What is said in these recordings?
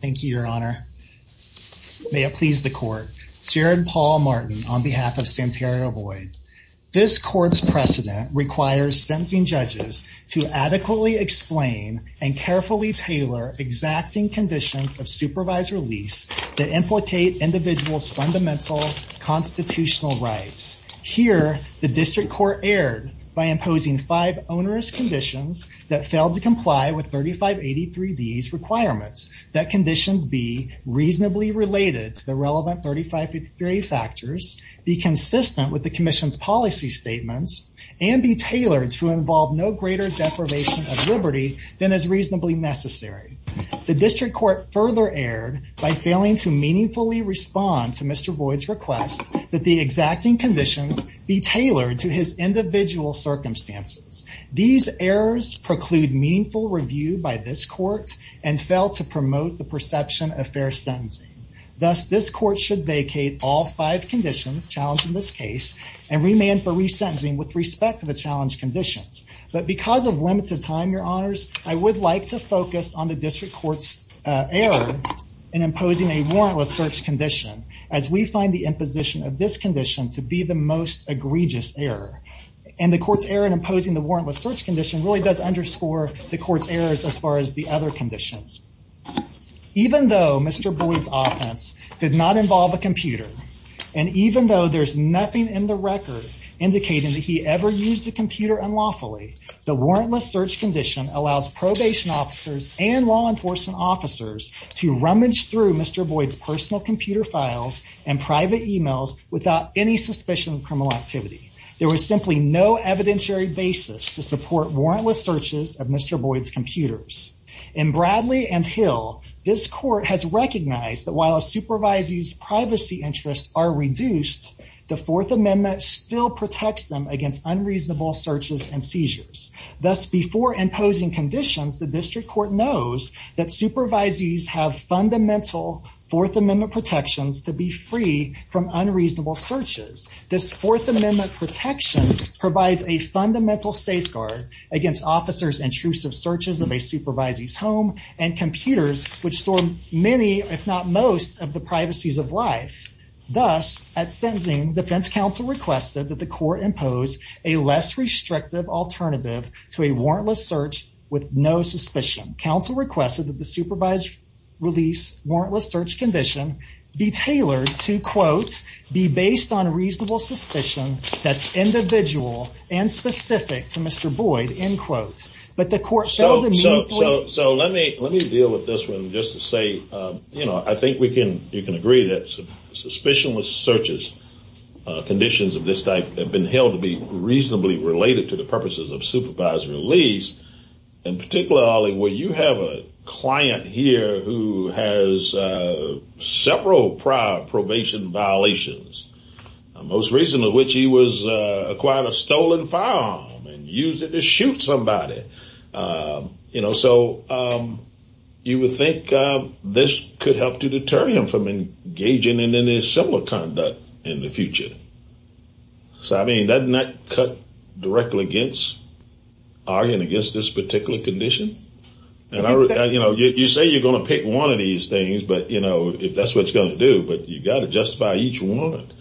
Thank you your honor. May it please the court. Jared Paul Martin on behalf of Santario Boyd. This court's precedent requires sentencing judges to adequately explain and carefully tailor exacting conditions of supervised release that implicate individuals fundamental constitutional rights. Here the district court erred by imposing five onerous conditions that failed to comply with 3583 D's requirements. That conditions be reasonably related to the relevant 3583 factors, be consistent with the Commission's policy statements, and be tailored to involve no greater deprivation of liberty than is reasonably necessary. The district court further erred by failing to meaningfully respond to Mr. Boyd's request that the exacting conditions be tailored to his individual circumstances. These errors preclude meaningful review by this court and fail to promote the perception of fair sentencing. Thus this court should vacate all five conditions challenged in this case and remand for resentencing with respect to the challenge conditions. But because of limited time your honors I would like to focus on the district courts error in imposing a warrantless search condition as we find the imposition of this condition to be the most egregious error. And the court's error in imposing the warrantless search condition really does underscore the court's errors as far as the other conditions. Even though Mr. Boyd's offense did not involve a computer and even though there's nothing in the record indicating that he ever used a computer unlawfully, the warrantless search condition allows probation officers and law enforcement officers to rummage through Mr. Boyd's personal computer files and private emails without any suspicion of criminal activity. There was simply no evidentiary basis to support warrantless searches of Mr. Boyd's computers. In Bradley and Hill this court has recognized that while a supervisor's privacy interests are reduced, the Fourth Amendment still protects them against unreasonable searches and seizures. Thus before imposing conditions the district court knows that supervisees have fundamental Fourth Amendment protections to be free from unreasonable searches. This Fourth Amendment protection provides a fundamental safeguard against officers intrusive searches of a supervisee's home and computers which store many if not most of the privacies of life. Thus at sentencing defense counsel requested that the court impose a less restrictive alternative to a warrantless search with no suspicion. Counsel requested that the supervised release warrantless search condition be tailored to quote be based on a reasonable suspicion that's individual and specific to Mr. Boyd end quote. But the court... So let me deal with this one just to say you know I think we can you can agree that suspicionless searches conditions of this type have been held to be reasonably related to the purposes of supervised release and particularly Ollie where you have a client here who has several prior probation violations most recently which he was acquired a stolen firearm and used it to shoot somebody you know so you would think this could help to deter him from engaging in any similar conduct in the future. So I mean doesn't that cut directly against arguing against this particular condition and I you know you say you're gonna pick one of these things but you know if that's what it's gonna do but you got to justify each warrant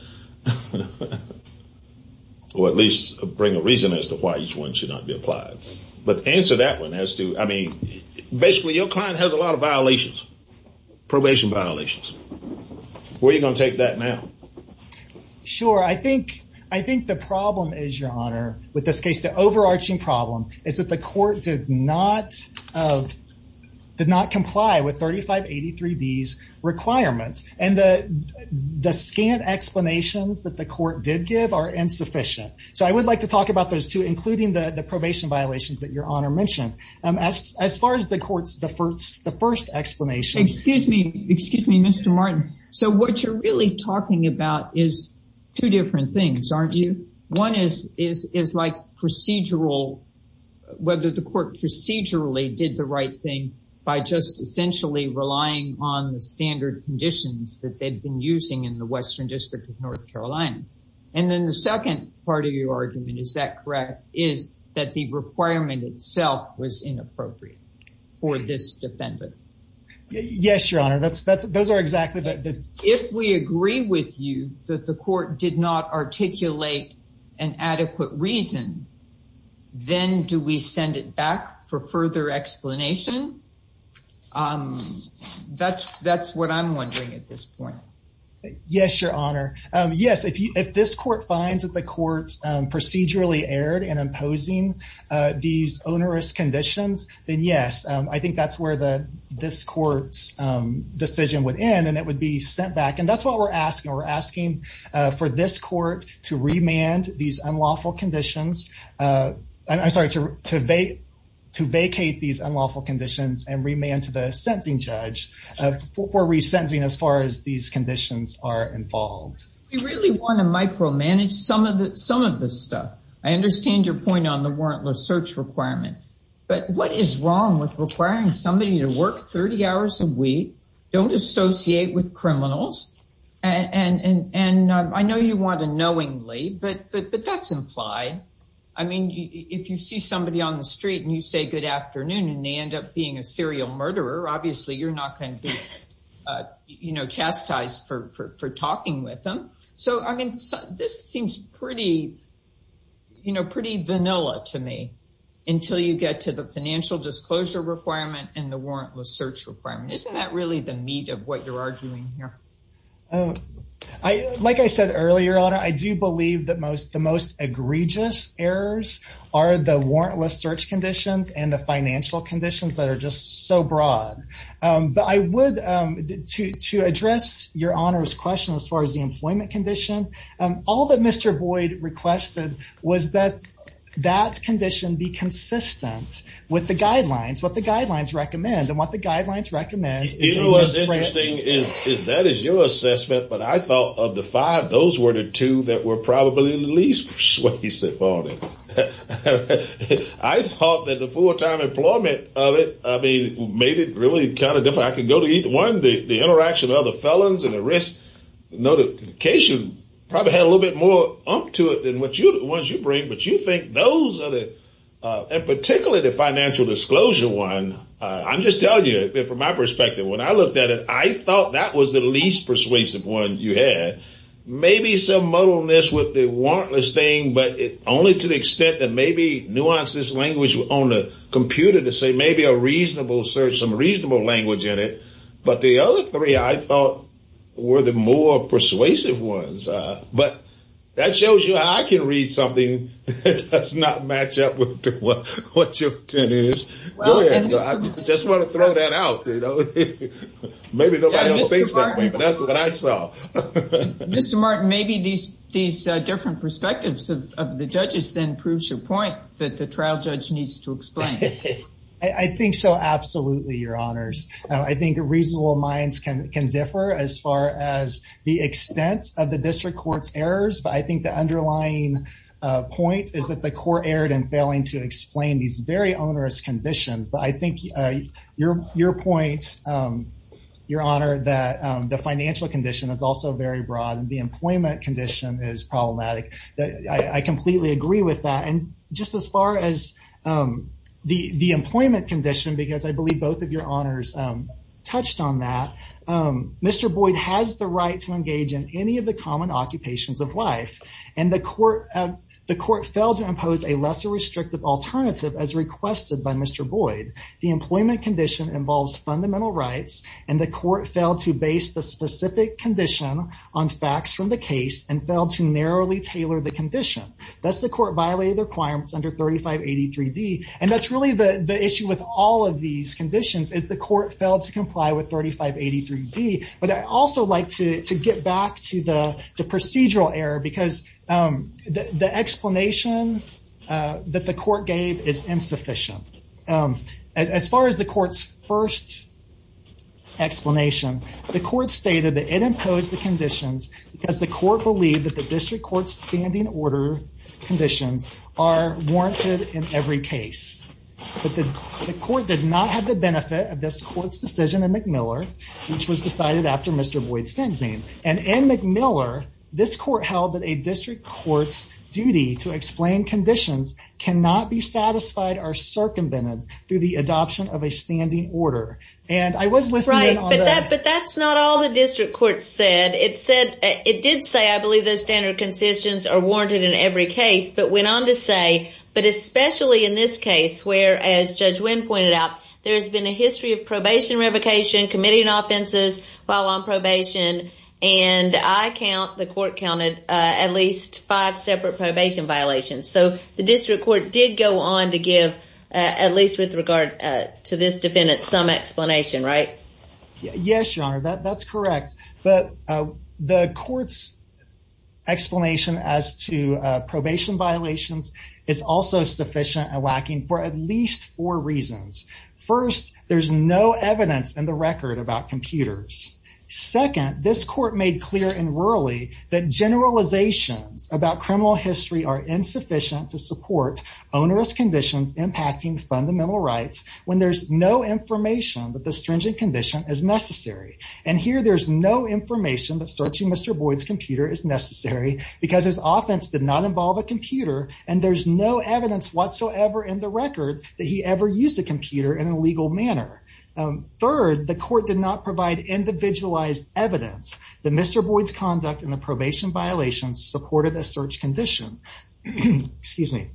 or at least bring a reason as to why each one should not be applied but answer that one as to I mean basically your client has a lot of sure I think I think the problem is your honor with this case the overarching problem is that the court did not did not comply with 3583 D's requirements and the the scant explanations that the court did give are insufficient so I would like to talk about those two including the the probation violations that your honor mentioned as far as the courts the first the first explanation excuse me excuse me mr. Martin so what you're really talking about is two different things aren't you one is is is like procedural whether the court procedurally did the right thing by just essentially relying on the standard conditions that they've been using in the Western District of North Carolina and then the second part of your argument is that correct is that the yes your honor that's that's those are exactly that if we agree with you that the court did not articulate an adequate reason then do we send it back for further explanation that's that's what I'm wondering at this point yes your honor yes if you if this court finds that the court's procedurally erred and imposing these onerous conditions then yes I think that's where the this court's decision would end and it would be sent back and that's what we're asking we're asking for this court to remand these unlawful conditions I'm sorry to debate to vacate these unlawful conditions and remand to the sentencing judge for resentencing as far as these conditions are involved you really want to micromanage some of the some of this stuff I understand your point on the warrantless search requirement but what is wrong with requiring somebody to work 30 hours a week don't associate with criminals and and and I know you want to knowingly but but but that's implied I mean if you see somebody on the street and you say good afternoon and they end up being a serial murderer obviously you're not going to be you know chastised for for talking with them so I mean this seems pretty you know pretty vanilla to me until you get to the requirement isn't that really the meat of what you're arguing here oh I like I said earlier on I do believe that most the most egregious errors are the warrantless search conditions and the financial conditions that are just so broad but I would to address your honors question as far as the employment condition all that mr. Boyd requested was that that condition be consistent with the guidelines what the guidelines recommend and what the guidelines recommend is that is your assessment but I thought of the five those were the two that were probably least persuasive on it I thought that the full-time employment of it I mean made it really kind of if I could go to eat one day the interaction of the felons and a risk notification probably had a little bit more to it than what you the ones you bring but you think those are the and particularly the financial disclosure one I'm just telling you from my perspective when I looked at it I thought that was the least persuasive one you had maybe some muddleness with the warrantless thing but it only to the extent that maybe nuances language on the computer to say maybe a reasonable search some reasonable language in it but the other three I thought were the more persuasive ones but that shows you I can read something that's not match up to what what you're doing is just want to throw that out you know maybe that's what I saw mr. Martin maybe these these different perspectives of the judges then proves your point that the trial judge needs to explain I think so absolutely your honors I think a reasonable minds can can differ as far as the extent of the district courts errors but I think the underlying point is that the court erred and failing to explain these very onerous conditions but I think your your point your honor that the financial condition is also very broad and the employment condition is problematic that I completely agree with that and just as far as the the employment condition because I believe both of your honors touched on that mr. Boyd has the right to engage in any of the common occupations of life and the court of the court failed to impose a lesser restrictive alternative as requested by mr. Boyd the employment condition involves fundamental rights and the court failed to base the specific condition on facts from the case and failed to narrowly tailor the condition that's the court violated requirements under 3583 D and that's really the the issue with all of these conditions is the court failed to comply with 3583 D but I also like to get back to the the procedural error because the explanation that the court gave is insufficient as far as the courts first explanation the court stated that it imposed the conditions because the court believed that the district courts standing order conditions are warranted in every case but the court did not have the benefit of this courts decision in McMillan which was decided after mr. Boyd sentencing and in McMillan this court held that a district courts duty to explain conditions cannot be satisfied or circumvented through the adoption of a standing order and I was listening but that's not all the district courts said it said it did say I believe those standard concessions are warranted in every case but went on to say but especially in this case where as judge Wynn pointed out there's been a committee in offenses while on probation and I count the court counted at least five separate probation violations so the district court did go on to give at least with regard to this defendant some explanation right yes your honor that that's correct but the courts explanation as to probation violations it's also sufficient and lacking for at least four reasons first there's no evidence in the record about computers second this court made clear and early that generalizations about criminal history are insufficient to support onerous conditions impacting fundamental rights when there's no information but the stringent condition is necessary and here there's no information that searching mr. Boyd's computer is necessary because his offense did not involve a computer and there's no evidence whatsoever in the third the court did not provide individualized evidence the mr. Boyd's conduct in the probation violations supported a search condition excuse me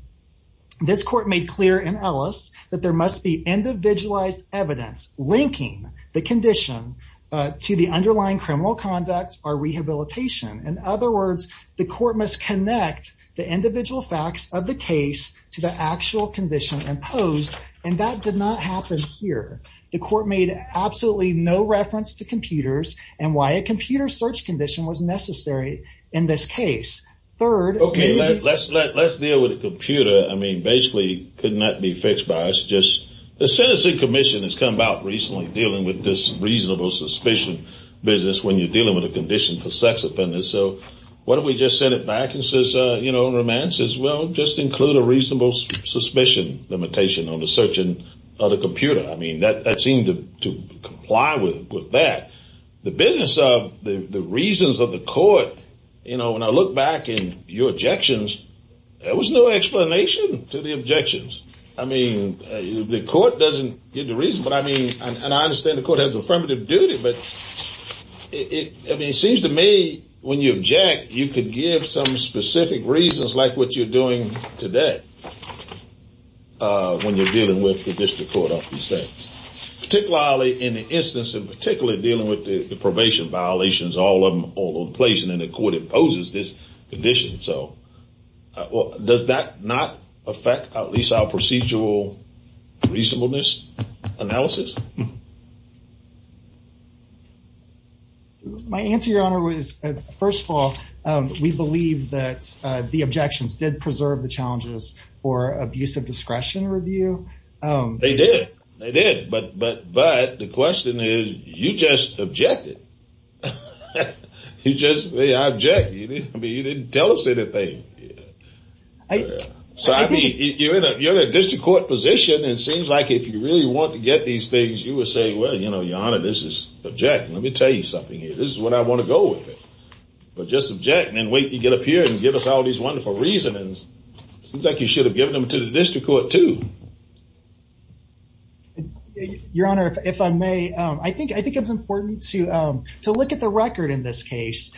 this court made clear in Ellis that there must be individualized evidence linking the condition to the underlying criminal conduct or rehabilitation in other words the court must connect the individual facts of the case to the here the court made absolutely no reference to computers and why a computer search condition was necessary in this case third okay let's let's deal with a computer I mean basically could not be fixed by us just the sentencing commission has come out recently dealing with this reasonable suspicion business when you're dealing with a condition for sex offenders so what if we just send it back and says you know romance as well just include a reasonable suspicion limitation on the search and other computer I mean that that seemed to comply with with that the business of the reasons of the court you know when I look back in your objections there was no explanation to the objections I mean the court doesn't get the reason but I mean and I understand the court has affirmative duty but it seems to me when you object you could give some specific reasons like what you're doing today when you're dealing with the district court of these things particularly in the instance and particularly dealing with the probation violations all of them all on place and then the court imposes this condition so well does that not affect at least our procedural reasonableness analysis my answer your honor was first of all we believe that the objections did preserve the challenges for abusive discretion review they did they did but but but the question is you just objected you just they object you didn't tell us anything I mean you're in a district court position it seems like if you really want to get these things you would say well you know your honor this is object let me tell you something here this is what I want to go with it but just object and wait you get up here and give us all these wonderful reasonings seems like you should have given them to the district court to your honor if I may I think I think it's important to to look at the record in this case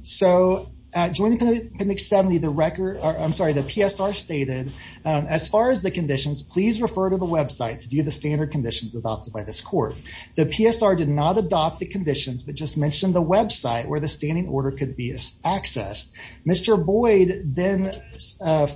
so at joint clinic 70 the record I'm sorry the PSR stated as far as the conditions please refer to the website to view the standard conditions adopted by this court the PSR did not adopt the website where the standing order could be accessed mr. Boyd then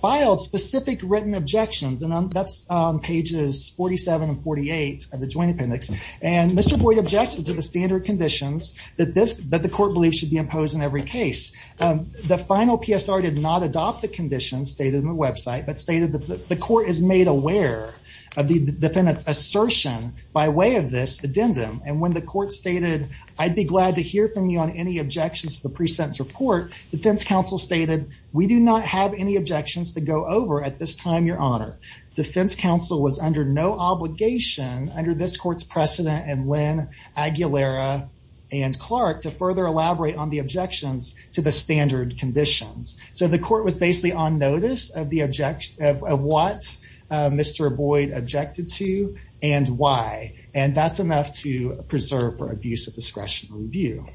filed specific written objections and that's pages 47 and 48 of the joint appendix and mr. Boyd objected to the standard conditions that this but the court believes should be imposed in every case the final PSR did not adopt the conditions stated in the website but stated that the court is made aware of the defendant's assertion by way of this addendum and when the court stated I'd be glad to hear from you on any objections to the pre-sentence report the defense counsel stated we do not have any objections to go over at this time your honor defense counsel was under no obligation under this courts precedent and Lynn Aguilera and Clark to further elaborate on the objections to the standard conditions so the court was basically on notice of the objection of what mr. Boyd objected to and why and that's enough to preserve for abuse of discretion review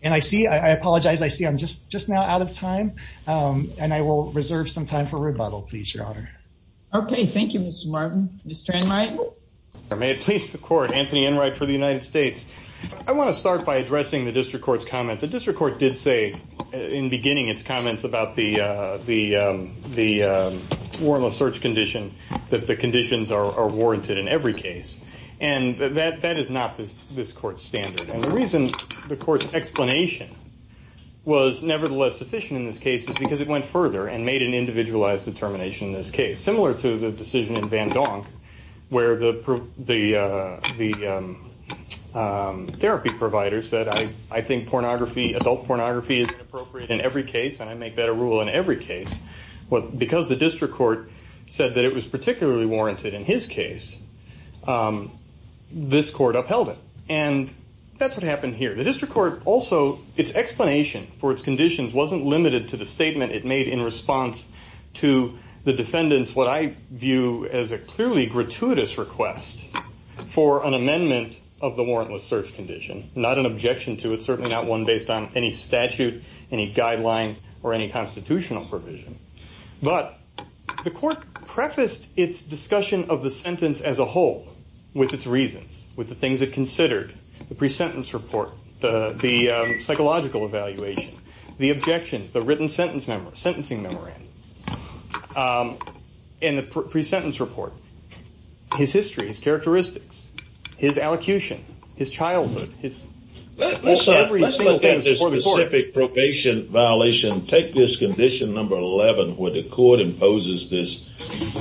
and I see I apologize I see I'm just just now out of time and I will reserve some time for rebuttal please your honor okay thank you mr. Martin mr. and right there may it please the court Anthony and right for the United States I want to start by addressing the district courts comment the district court did say in beginning its comments about the the the warrantless search condition that the conditions are warranted in every case and that that is not this this court standard and the reason the court's explanation was nevertheless sufficient in this case is because it went further and made an individualized determination in this case similar to the decision in Van Donk where the proof the the therapy provider said I I think pornography adult pornography is appropriate in every case and I make that a rule in every case what because the district court said that it was particularly warranted in his case this court upheld it and that's what happened here the district court also its explanation for its conditions wasn't limited to the statement it made in response to the defendants what I view as a clearly gratuitous request for an amendment of the warrantless search condition not an objection to it certainly not one based on any statute any guideline or any constitutional provision but the court prefaced its discussion of the sentence as a whole with its reasons with the things that considered the pre-sentence report the the psychological evaluation the objections the written sentence member sentencing memorandum in the pre-sentence report his history his characteristics his allocution his specific probation violation take this condition number 11 where the court imposes this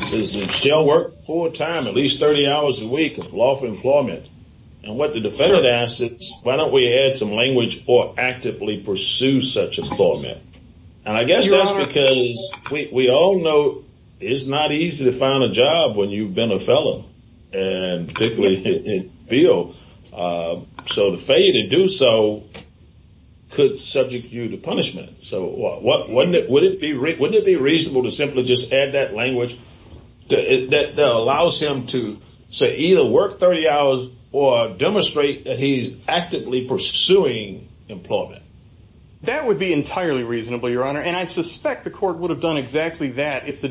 does it still work full-time at least 30 hours a week of lawful employment and what the defendant asks it's why don't we add some language or actively pursue such a format and I guess that's because we all know it's not easy to find a job when you've been a fellow and typically it feel so the do so could subject you to punishment so what would it be reasonable to simply just add that language that allows him to say either work 30 hours or demonstrate that he's actively pursuing employment that would be entirely reasonable your honor and I suspect the court would have done exactly that if the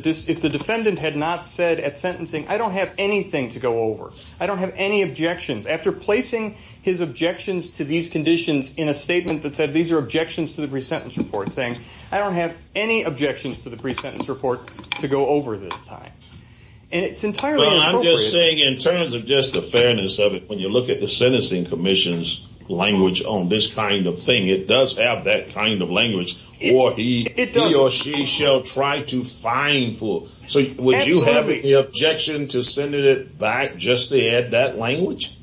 defendant had not said at sentencing I don't have anything to go over I don't have any objections to the pre-sentence report saying I don't have any objections to the pre-sentence report to go over this time and it's entirely saying in terms of just the fairness of it when you look at the sentencing Commission's language on this kind of thing it does have that kind of language or he or she shall try to find full so would you have any objection to send it back just to that language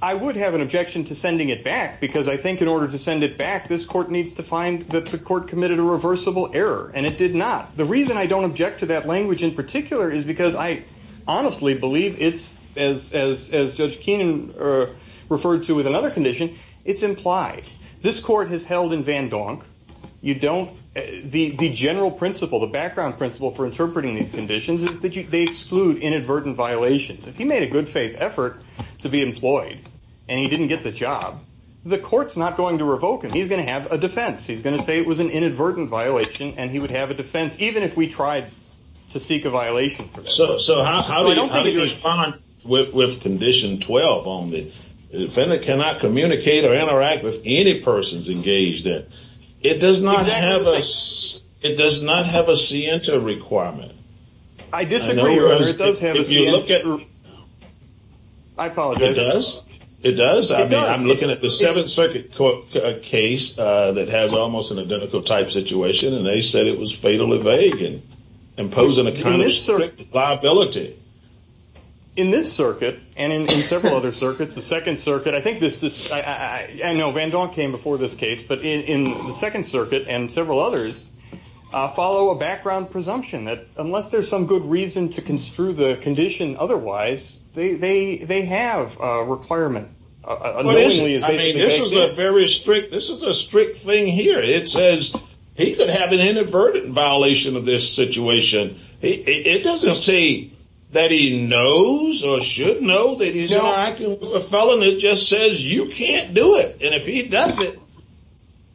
I would have an objection to sending it back because I think in order to send it back this court needs to find that the court committed a reversible error and it did not the reason I don't object to that language in particular is because I honestly believe it's as as Judge Keenan referred to with another condition it's implied this court has held in Van Donk you don't the the general principle the background principle for interpreting these conditions is that you exclude inadvertent violations if you made a good faith effort to be employed and he didn't get the job the courts not going to revoke him he's going to have a defense he's going to say it was an inadvertent violation and he would have a defense even if we tried to seek a violation so so how do you respond with condition 12 on the defendant cannot communicate or interact with any persons engaged in it does not have us it does I disagree or it does have you look at her I apologize it does I'm looking at the seventh circuit court case that has almost an identical type situation and they said it was fatally vague and imposing a kind of strict liability in this circuit and in several other circuits the Second Circuit I think this this I know Van Donk came before this case but in the Second Circuit and unless there's some good reason to construe the condition otherwise they they they have a requirement this is a very strict this is a strict thing here it says he could have an inadvertent violation of this situation it doesn't say that he knows or should know that he's not acting a felon it just says you can't do it and if he does it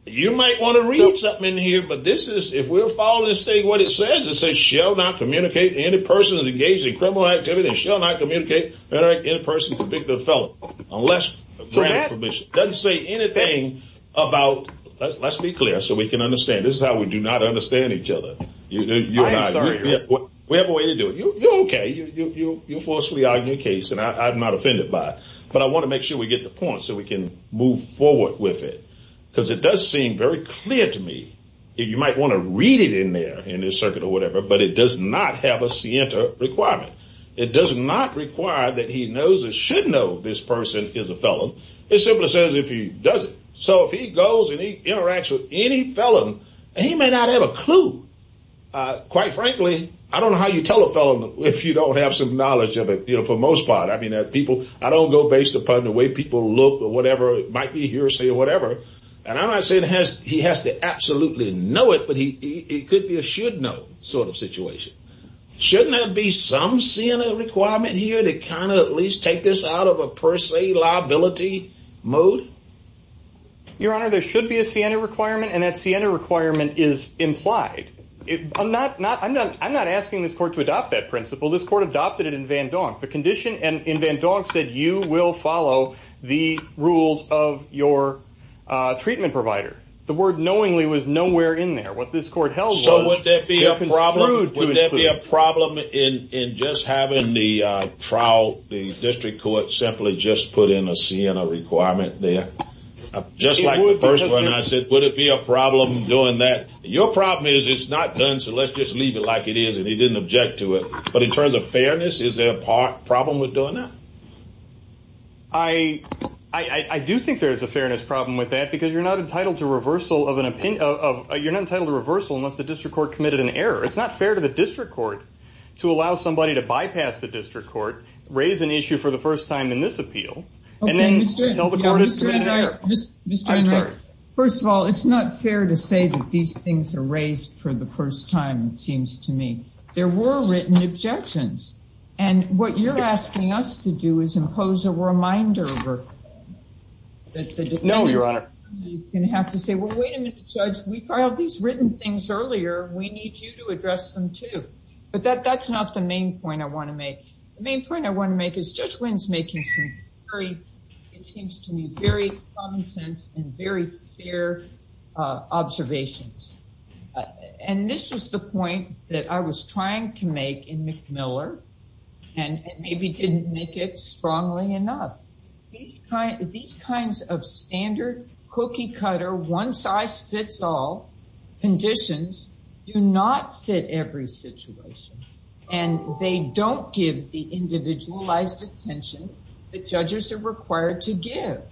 you might want to read something in here but this is if we're following the state what it says it says shall not communicate any person is engaged in criminal activity shall not communicate better in a person convicted of felon unless that doesn't say anything about let's let's be clear so we can understand this is how we do not understand each other we have a way to do it okay you you forcefully argue case and I'm not offended by it but I want to make sure we get the point so we can move forward with it because it does seem very clear to me you might want to read it in there in this circuit or whatever but it does not have a scienter requirement it does not require that he knows it should know this person is a felon it simply says if he does it so if he goes and he interacts with any felon he may not have a clue quite frankly I don't know how you tell a felon if you don't have some knowledge of it you know for most part I mean that people I don't go based upon the way people look or might be hearsay or whatever and I'm not saying has he has to absolutely know it but he it could be a should know sort of situation shouldn't that be some Sienna requirement here to kind of at least take this out of a per se liability mode your honor there should be a Sienna requirement and that Sienna requirement is implied it I'm not not I'm not I'm not asking this court to adopt that principle this court adopted it in Van Donk the condition and in Van Donk said you will follow the rules of your treatment provider the word knowingly was nowhere in there what this court held so would there be a problem would there be a problem in in just having the trial the district court simply just put in a Sienna requirement there just like the first one I said would it be a problem doing that your problem is it's not done so let's just leave it like it is and he didn't object to it but in terms of fairness is there a problem with doing that I I do think there's a fairness problem with that because you're not entitled to reversal of an opinion of you're not entitled to reversal unless the district court committed an error it's not fair to the district court to allow somebody to bypass the district court raise an issue for the first time in this appeal and then tell the court it's just first of all it's not fair to say that these things are raised for the first time it you're asking us to do is impose a reminder no your honor you have to say well wait a minute judge we filed these written things earlier we need you to address them too but that that's not the main point I want to make the main point I want to make is judge wins making some very it seems to me very common sense and very clear observations and this was the point that I was trying to make in Miller and maybe didn't make it strongly enough these kind of these kinds of standard cookie-cutter one-size-fits-all conditions do not fit every situation and they don't give the individualized attention that judges are required to give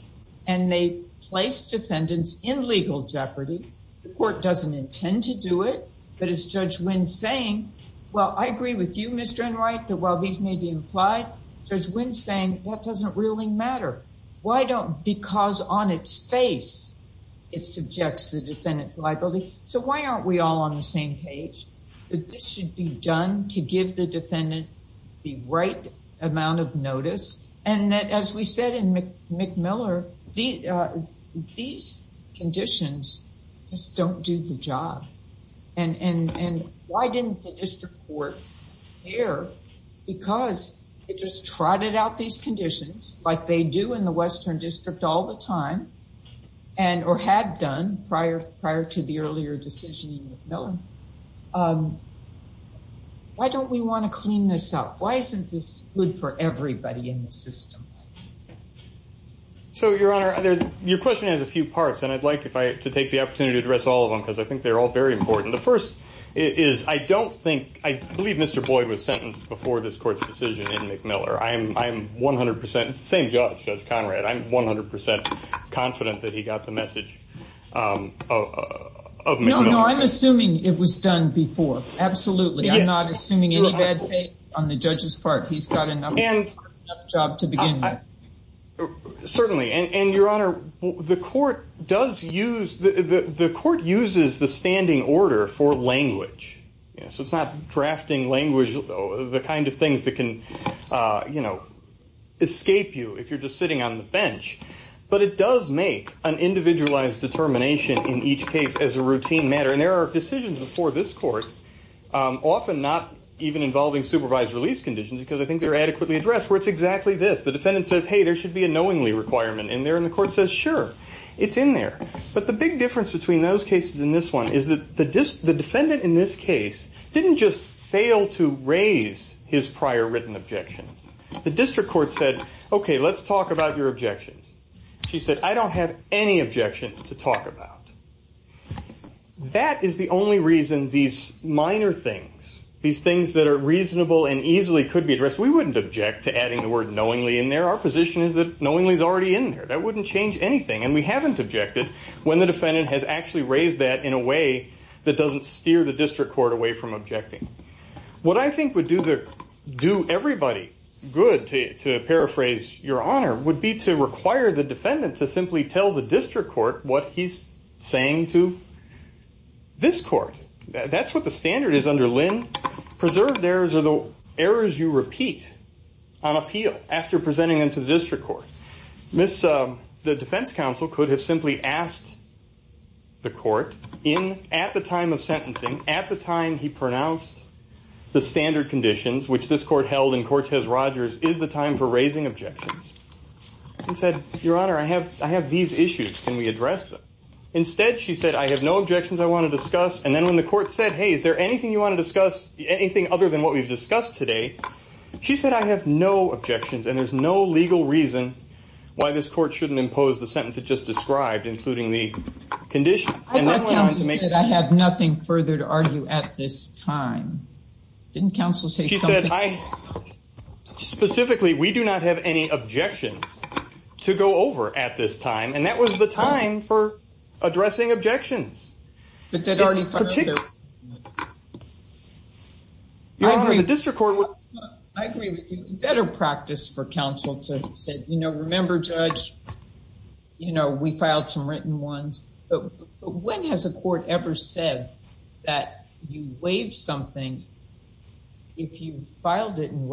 and they place defendants in legal jeopardy the court doesn't intend to do it but it's judge wins saying well I agree with you mr. and right that while these may be implied judge wins saying that doesn't really matter why don't because on its face it subjects the defendant liability so why aren't we all on the same page but this should be done to give the defendant the right amount of notice and that as we said in McMillan these conditions just don't do the job and and and why didn't the district court here because it just trotted out these conditions like they do in the Western District all the time and or had done prior prior to the earlier decision no why don't we want to clean this up why isn't this good for everybody in the system so your honor your question has a few parts and I'd like if I to take the opportunity to address all of them because I think they're all very important the first is I don't think I believe mr. Boyd was sentenced before this court's decision in McMillan I am I'm 100% same judge judge Conrad I'm 100% confident that he got the message I'm assuming it was done before absolutely I'm not assuming anything on the judge's part he's got enough job to begin certainly and your honor the court does use the the court uses the standing order for language so it's not drafting language though the kind of things that can you know escape you if you're just sitting on the bench but it does make an individualized determination in each case as a routine matter and there are decisions before this court often not even involving supervised release conditions because I think they're adequately addressed where it's exactly this the defendant says hey there should be a knowingly requirement in there in the court says sure it's in there but the big difference between those cases in this one is that the disk the defendant in this case didn't just fail to raise his prior written objections the district court said okay let's talk about your objections she said I don't have any objections to talk about that is the only reason these minor things these things that are reasonable and easily could be addressed we wouldn't object to adding the word knowingly in there our position is that knowingly is already in there that wouldn't change anything and we haven't objected when the defendant has actually raised that in a way that doesn't steer the district court away from objecting what I think would do the do everybody good to paraphrase your honor would be to the defendant to simply tell the district court what he's saying to this court that's what the standard is under Lynn preserved errors are the errors you repeat on appeal after presenting them to the district court miss the defense counsel could have simply asked the court in at the time of sentencing at the time he pronounced the standard conditions which this court held in your honor I have I have these issues can we address them instead she said I have no objections I want to discuss and then when the court said hey is there anything you want to discuss anything other than what we've discussed today she said I have no objections and there's no legal reason why this court shouldn't impose the sentence it just described including the condition I have nothing further to argue at this time didn't counsel say she said I specifically we do not have any objections to go over at this time and that was the time for addressing objections but that already particular the district court would I agree with you better practice for counsel to say you know remember judge you know we filed some written ones but when has a writing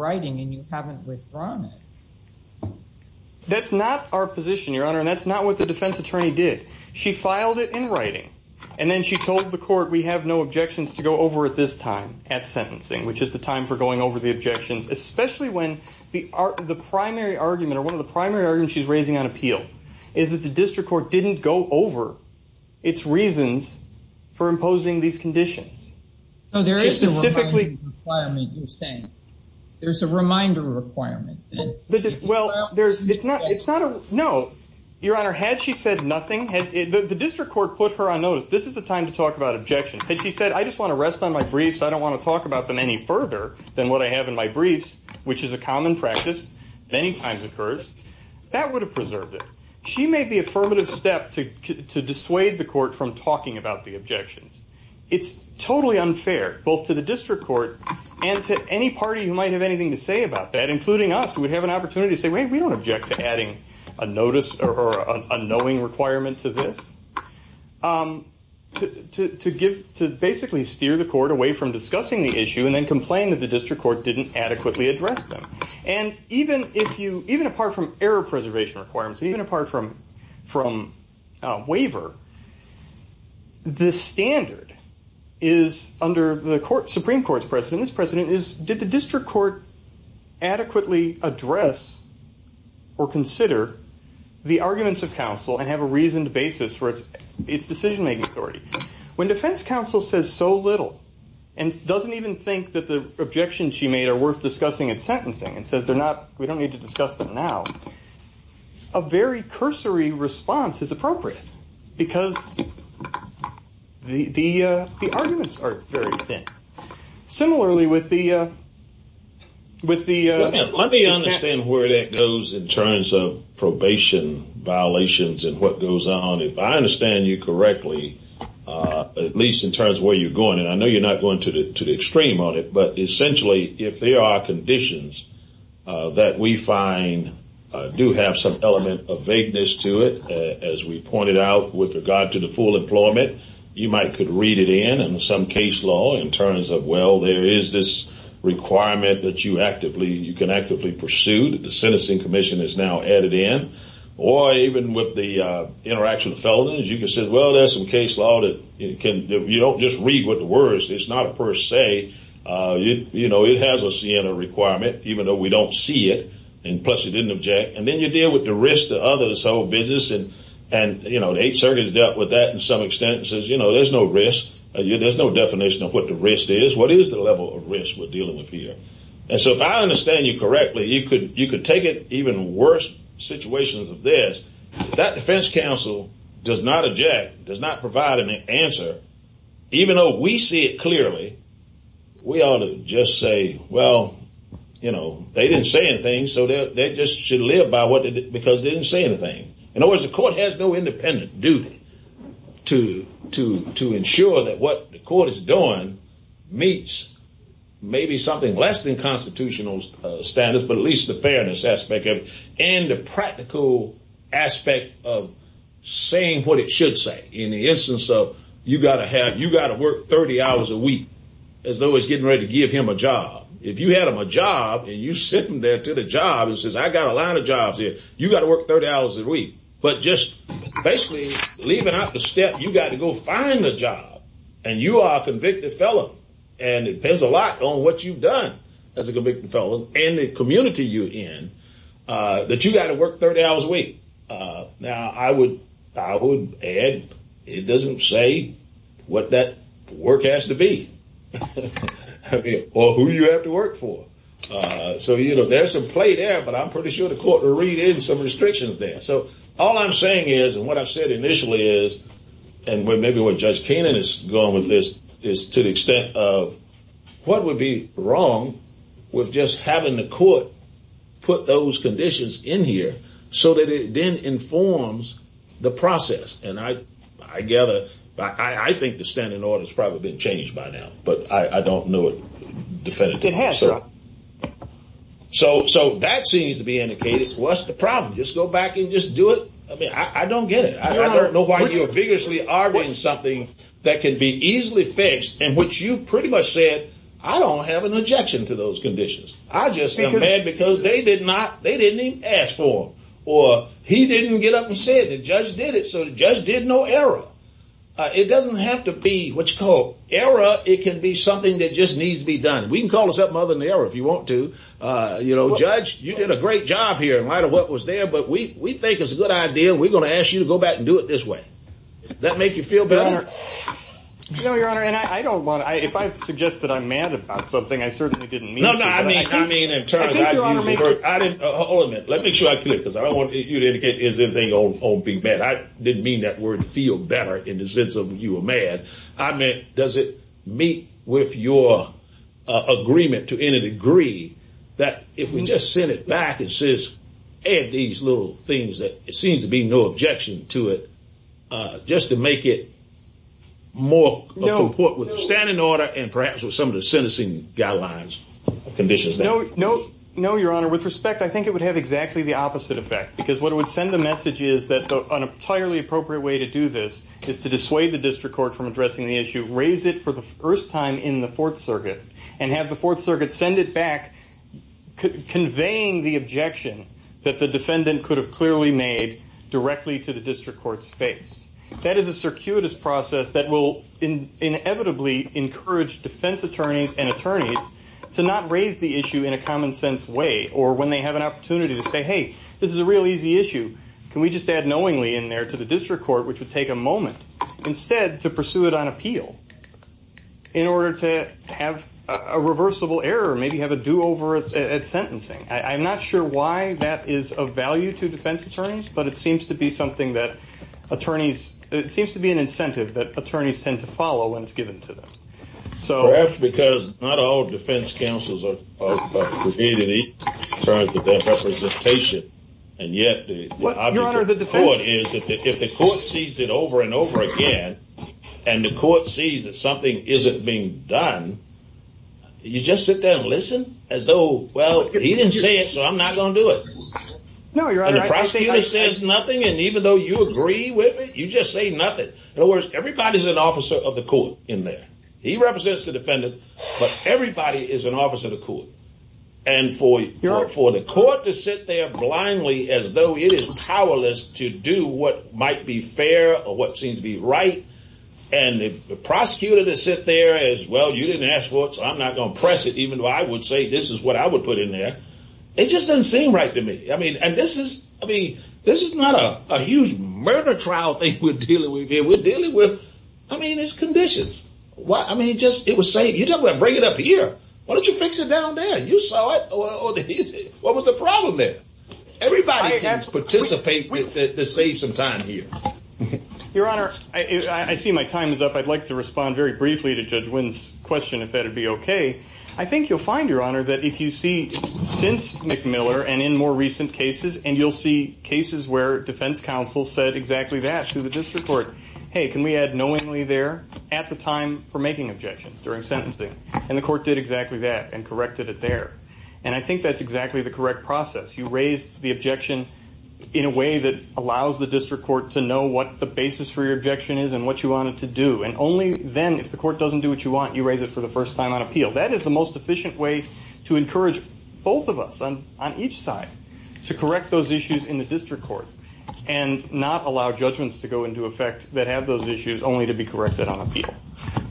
that's not our position your honor and that's not what the defense attorney did she filed it in writing and then she told the court we have no objections to go over at this time at sentencing which is the time for going over the objections especially when the art of the primary argument one of the primary argument she's raising on appeal is that the district court didn't go over its reasons for imposing these conditions there is a requirement you're saying there's a reminder requirement well there's it's not it's not a no your honor had she said nothing had the district court put her on notice this is the time to talk about objections and she said I just want to rest on my briefs I don't want to talk about them any further than what I have in my briefs which is a common practice many times occurs that would have preserved it she made the affirmative step to dissuade the court from talking about the objections it's totally unfair both to the district court and to any party who might have anything to say about that including us who would have an opportunity to say wait we don't object to adding a notice or a knowing requirement to this to give to basically steer the court away from discussing the issue and then complain that the district court didn't adequately address them and even if you even apart from error preservation requirements even apart from from waiver this standard is under the court Supreme Court's precedent this precedent is did the district court adequately address or consider the arguments of counsel and have a reason to basis for its its decision-making authority when defense counsel says so little and doesn't even think that the objections she made are worth discussing at sentencing and says they're not we don't need to discuss them now a very cursory response is appropriate because the the arguments are very thin similarly with the with the let me understand where that goes in terms of probation violations and what goes on if I understand you correctly at least in terms of where you're going and I know you're not going to the to the extreme on it but essentially if there are conditions that we find do have some element of vagueness to it as we pointed out with regard to the full employment you might could read it in and some case law in terms of well there is this requirement that you actively you can actively pursue the sentencing Commission is now added in or even with the interaction of felons you can say well there's some case law that it can you don't just read what the words it's not per se you know it has a requirement even though we don't see it and plus you didn't object and then you deal with the risk to others whole business and and you know the eight circuits dealt with that in some extent says you know there's no risk yeah there's no definition of what the risk is what is the level of risk we're dealing with here and so if I understand you correctly you could you could take it even worse situations of this that defense counsel does not object does not you know they didn't say anything so that they just should live by what did it because didn't say anything in other words the court has no independent duty to to to ensure that what the court is doing meets maybe something less than constitutional standards but at least the fairness aspect of it and the practical aspect of saying what it should say in the instance of you got to have you got to work 30 hours a week as though it's getting ready to give him a job and you sit in there to the job and says I got a lot of jobs here you got to work 30 hours a week but just basically leaving out the step you got to go find the job and you are convicted fellow and it depends a lot on what you've done as a convicted fellow and the community you in that you got to work 30 hours a week now I would I would add it doesn't say what that work has to be who you have to work for so you know there's some play there but I'm pretty sure the court will read in some restrictions there so all I'm saying is and what I've said initially is and when maybe what judge Kanan is going with this is to the extent of what would be wrong with just having the court put those conditions in here so that it then informs the process and I I gather I I think the standing order has probably been changed by now but I don't know it definitive answer so so that seems to be indicated what's the problem just go back and just do it I mean I don't get it I don't know why you're vigorously arguing something that can be easily fixed and which you pretty much said I don't have an objection to those conditions I just think I'm mad because they did not they didn't even ask for or he didn't get up and said the judge did it so the judge did no error it doesn't have to be what you call error it can be something that just needs to be done we can call us up mother in the air if you want to you know judge you did a great job here in light of what was there but we we think it's a good idea we're gonna ask you to go back and do it this way that make you feel better no your honor and I don't want to I if I've suggested I'm mad about something I certainly didn't mean let me show you because I don't want you to get is that they don't all be bad I didn't mean that word feel better in the sense of you were mad I meant does it meet with your agreement to any degree that if we just send it back and says add these little things that it seems to be no objection to it just to make it more no report with standing order and perhaps with some of the sentencing guidelines conditions no no no your honor with respect I think it would have exactly the opposite effect because what would send the message is that an entirely appropriate way to do this is to dissuade the district court from addressing the issue raise it for the first time in the fourth circuit and have the fourth circuit send it back conveying the objection that the defendant could have clearly made directly to the district courts face that is a circuitous process that will in inevitably encourage defense attorneys and attorneys to not raise the issue in a common-sense way or when they have an opportunity to say hey this is a real easy issue can we just add knowingly in there to the district court which would take a moment instead to pursue it on appeal in order to have a reversible error maybe have a do-over at sentencing I'm not sure why that is of value to defense attorneys but it seems to be something that attorneys it seems to be an incentive that attorneys tend to follow when it's given to them so because not all defense counsels and yet if the court sees it over and over again and the court sees that something isn't being done you just sit there and listen as though well he didn't say it so I'm not gonna do it no you're right the prosecutor says nothing and even though you agree with it you just say nothing in other words everybody's an officer of the court in there he represents the defendant but everybody is an officer of the court and for your art for the court to sit there blindly as though it is powerless to do what might be fair or what seems to be right and the prosecutor to sit there as well you didn't ask for it so I'm not gonna press it even though I would say this is what I would put in there it just doesn't seem right to me I mean and this is I mean this is not a huge murder trial thing we're dealing with here we're conditions what I mean just it was saying you don't want to bring it up a year why don't you fix it down there you saw it what was the problem there everybody can't participate with the save some time here your honor I see my time is up I'd like to respond very briefly to judge wins question if that would be okay I think you'll find your honor that if you see since McMiller and in more recent cases and you'll see cases where defense counsel said exactly that to the district court hey can we add knowingly there at the time for making objections during sentencing and the court did exactly that and corrected it there and I think that's exactly the correct process you raised the objection in a way that allows the district court to know what the basis for your objection is and what you wanted to do and only then if the court doesn't do what you want you raise it for the first time on appeal that is the most efficient way to encourage both of us on each side to correct those issues in the to go into effect that have those issues only to be corrected on appeal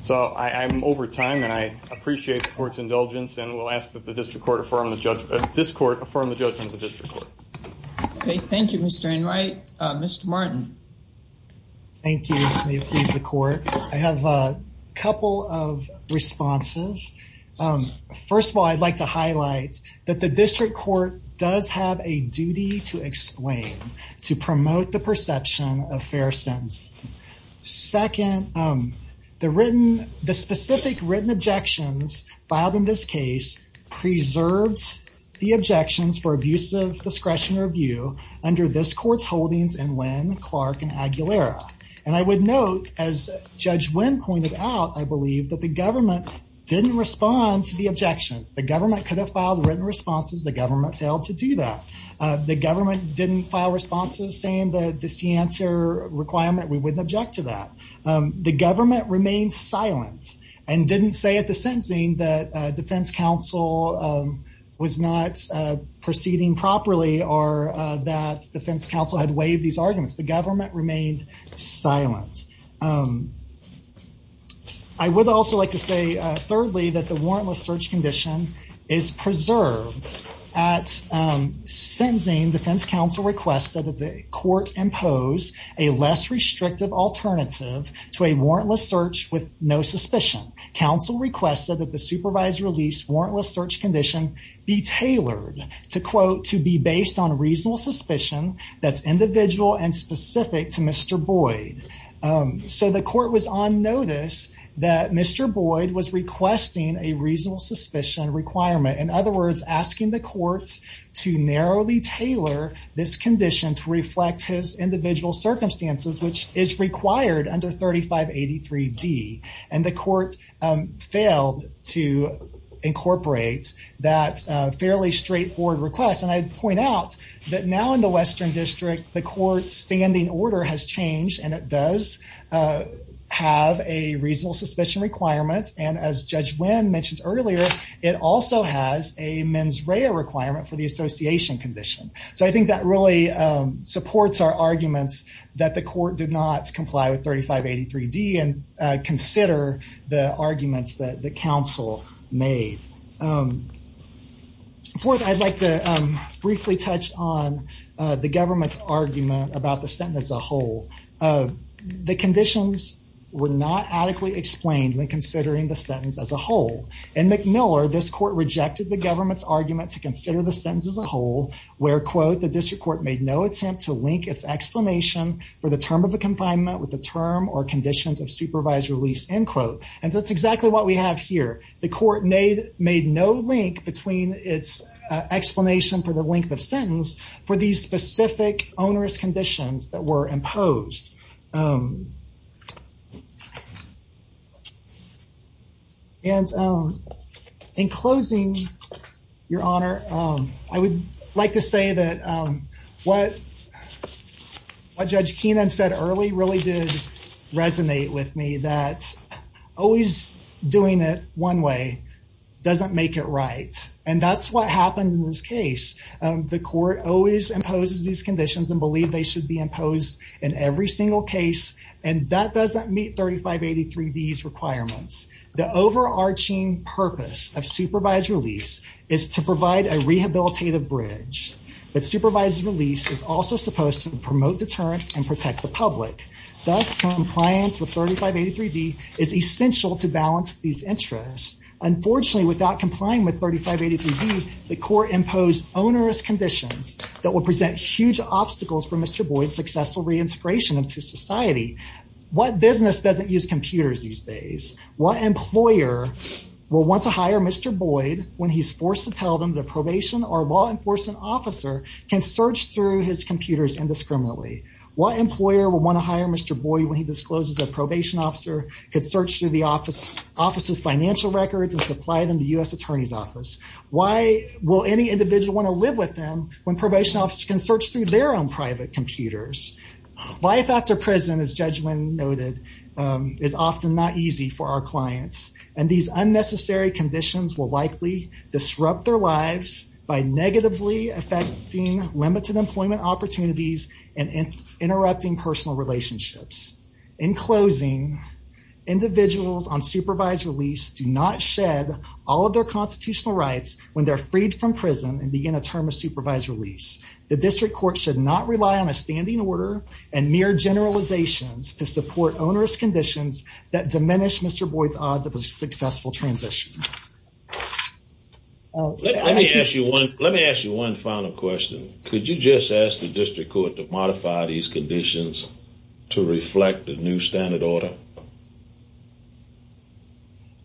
so I'm over time and I appreciate the court's indulgence and we'll ask that the district court affirm the judge this court affirm the judgment of this report okay thank you mr. Enright mr. Martin thank you the court I have a couple of responses first of all I'd like to highlight that the district court does have a duty to explain to promote the perception of fair sense second the written the specific written objections filed in this case preserves the objections for abusive discretion review under this courts holdings and when Clark and Aguilera and I would note as judge when pointed out I believe that the government didn't respond to the objections the government could have written responses the government failed to do that the government didn't file responses saying that this the answer requirement we wouldn't object to that the government remains silent and didn't say at the sentencing that Defense Counsel was not proceeding properly or that's defense counsel had waived these arguments the government remained silent I would also like to say thirdly that the warrantless search condition is preserved at sentencing defense counsel requested that the court impose a less restrictive alternative to a warrantless search with no suspicion counsel requested that the supervisor released warrantless search condition be tailored to quote to be based on a reasonable suspicion that's individual and specific to mr. Boyd so the court was on notice that mr. Boyd was requesting a reasonable suspicion requirement in other words asking the court to narrowly tailor this condition to reflect his individual circumstances which is required under 3583 D and the court failed to incorporate that fairly straightforward request and I point out that now in the Western District the court's standing order has changed and does have a reasonable suspicion requirement and as judge when mentioned earlier it also has a mens rea requirement for the association condition so I think that really supports our arguments that the court did not comply with 3583 D and consider the arguments that the council made fourth I'd like to briefly touch on the government's argument about the sentence as a whole the conditions were not adequately explained when considering the sentence as a whole and McMiller this court rejected the government's argument to consider the sentence as a whole where quote the district court made no attempt to link its explanation for the term of a confinement with the term or conditions of supervised release in quote and that's exactly what we have here the court made made no link between its explanation for the length of imposed and in closing your honor I would like to say that what a judge Keenan said early really did resonate with me that always doing it one way doesn't make it right and that's what happened in this case the court always these conditions and believe they should be imposed in every single case and that doesn't meet 3583 D's requirements the overarching purpose of supervised release is to provide a rehabilitative bridge but supervised release is also supposed to promote deterrence and protect the public thus compliance with 3583 D is essential to balance these interests unfortunately without complying with 3583 D the court imposed onerous conditions that will present huge obstacles for mr. Boyd's successful reintegration into society what business doesn't use computers these days what employer will want to hire mr. Boyd when he's forced to tell them the probation or law enforcement officer can search through his computers indiscriminately what employer will want to hire mr. Boyd when he discloses that probation officer could search through the office offices financial records and supply them the US Attorney's Office why will any individual want to live with them when probation officer can search through their own private computers life after prison is judgment noted is often not easy for our clients and these unnecessary conditions will likely disrupt their lives by negatively affecting limited employment opportunities and in interrupting personal relationships in closing individuals on supervised release do not shed all of their constitutional rights when they're freed from prison and begin a term of supervised release the district court should not rely on a standing order and mere generalizations to support onerous conditions that diminish mr. Boyd's odds of a successful transition let me ask you one let me ask you one final question could you just ask the district court to modify these conditions to reflect a new standard order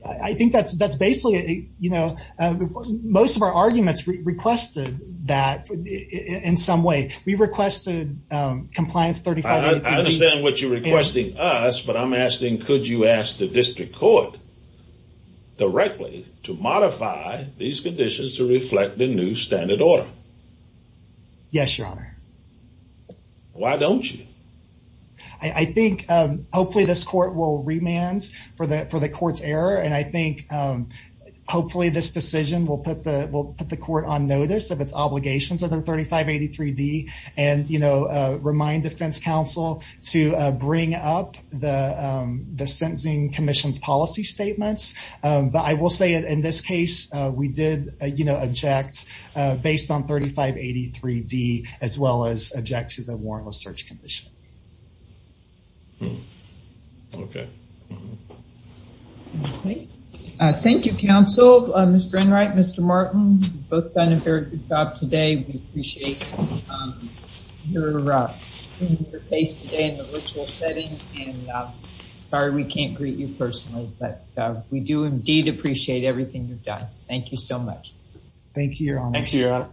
I think that's that's basically a you know most of our arguments requested that in some way we requested compliance 35 understand what you're requesting us but I'm asking could you ask the district court directly to modify these conditions to reflect the new standard order yes your honor why don't you I think hopefully this court will remand for that for the court's error and I think hopefully this decision will put the will put the court on notice of its obligations other 3583 D and you know remind defense counsel to bring up the the sentencing Commission's policy statements but I will say it in this case we did you know object based on 3583 D as well as object to the warrantless search condition okay thank you counsel mr. Enright mr. Martin both done a very good job today we appreciate your face today in the ritual setting and sorry we can't greet you personally but we do indeed appreciate everything you've done thank you so much thank you your honor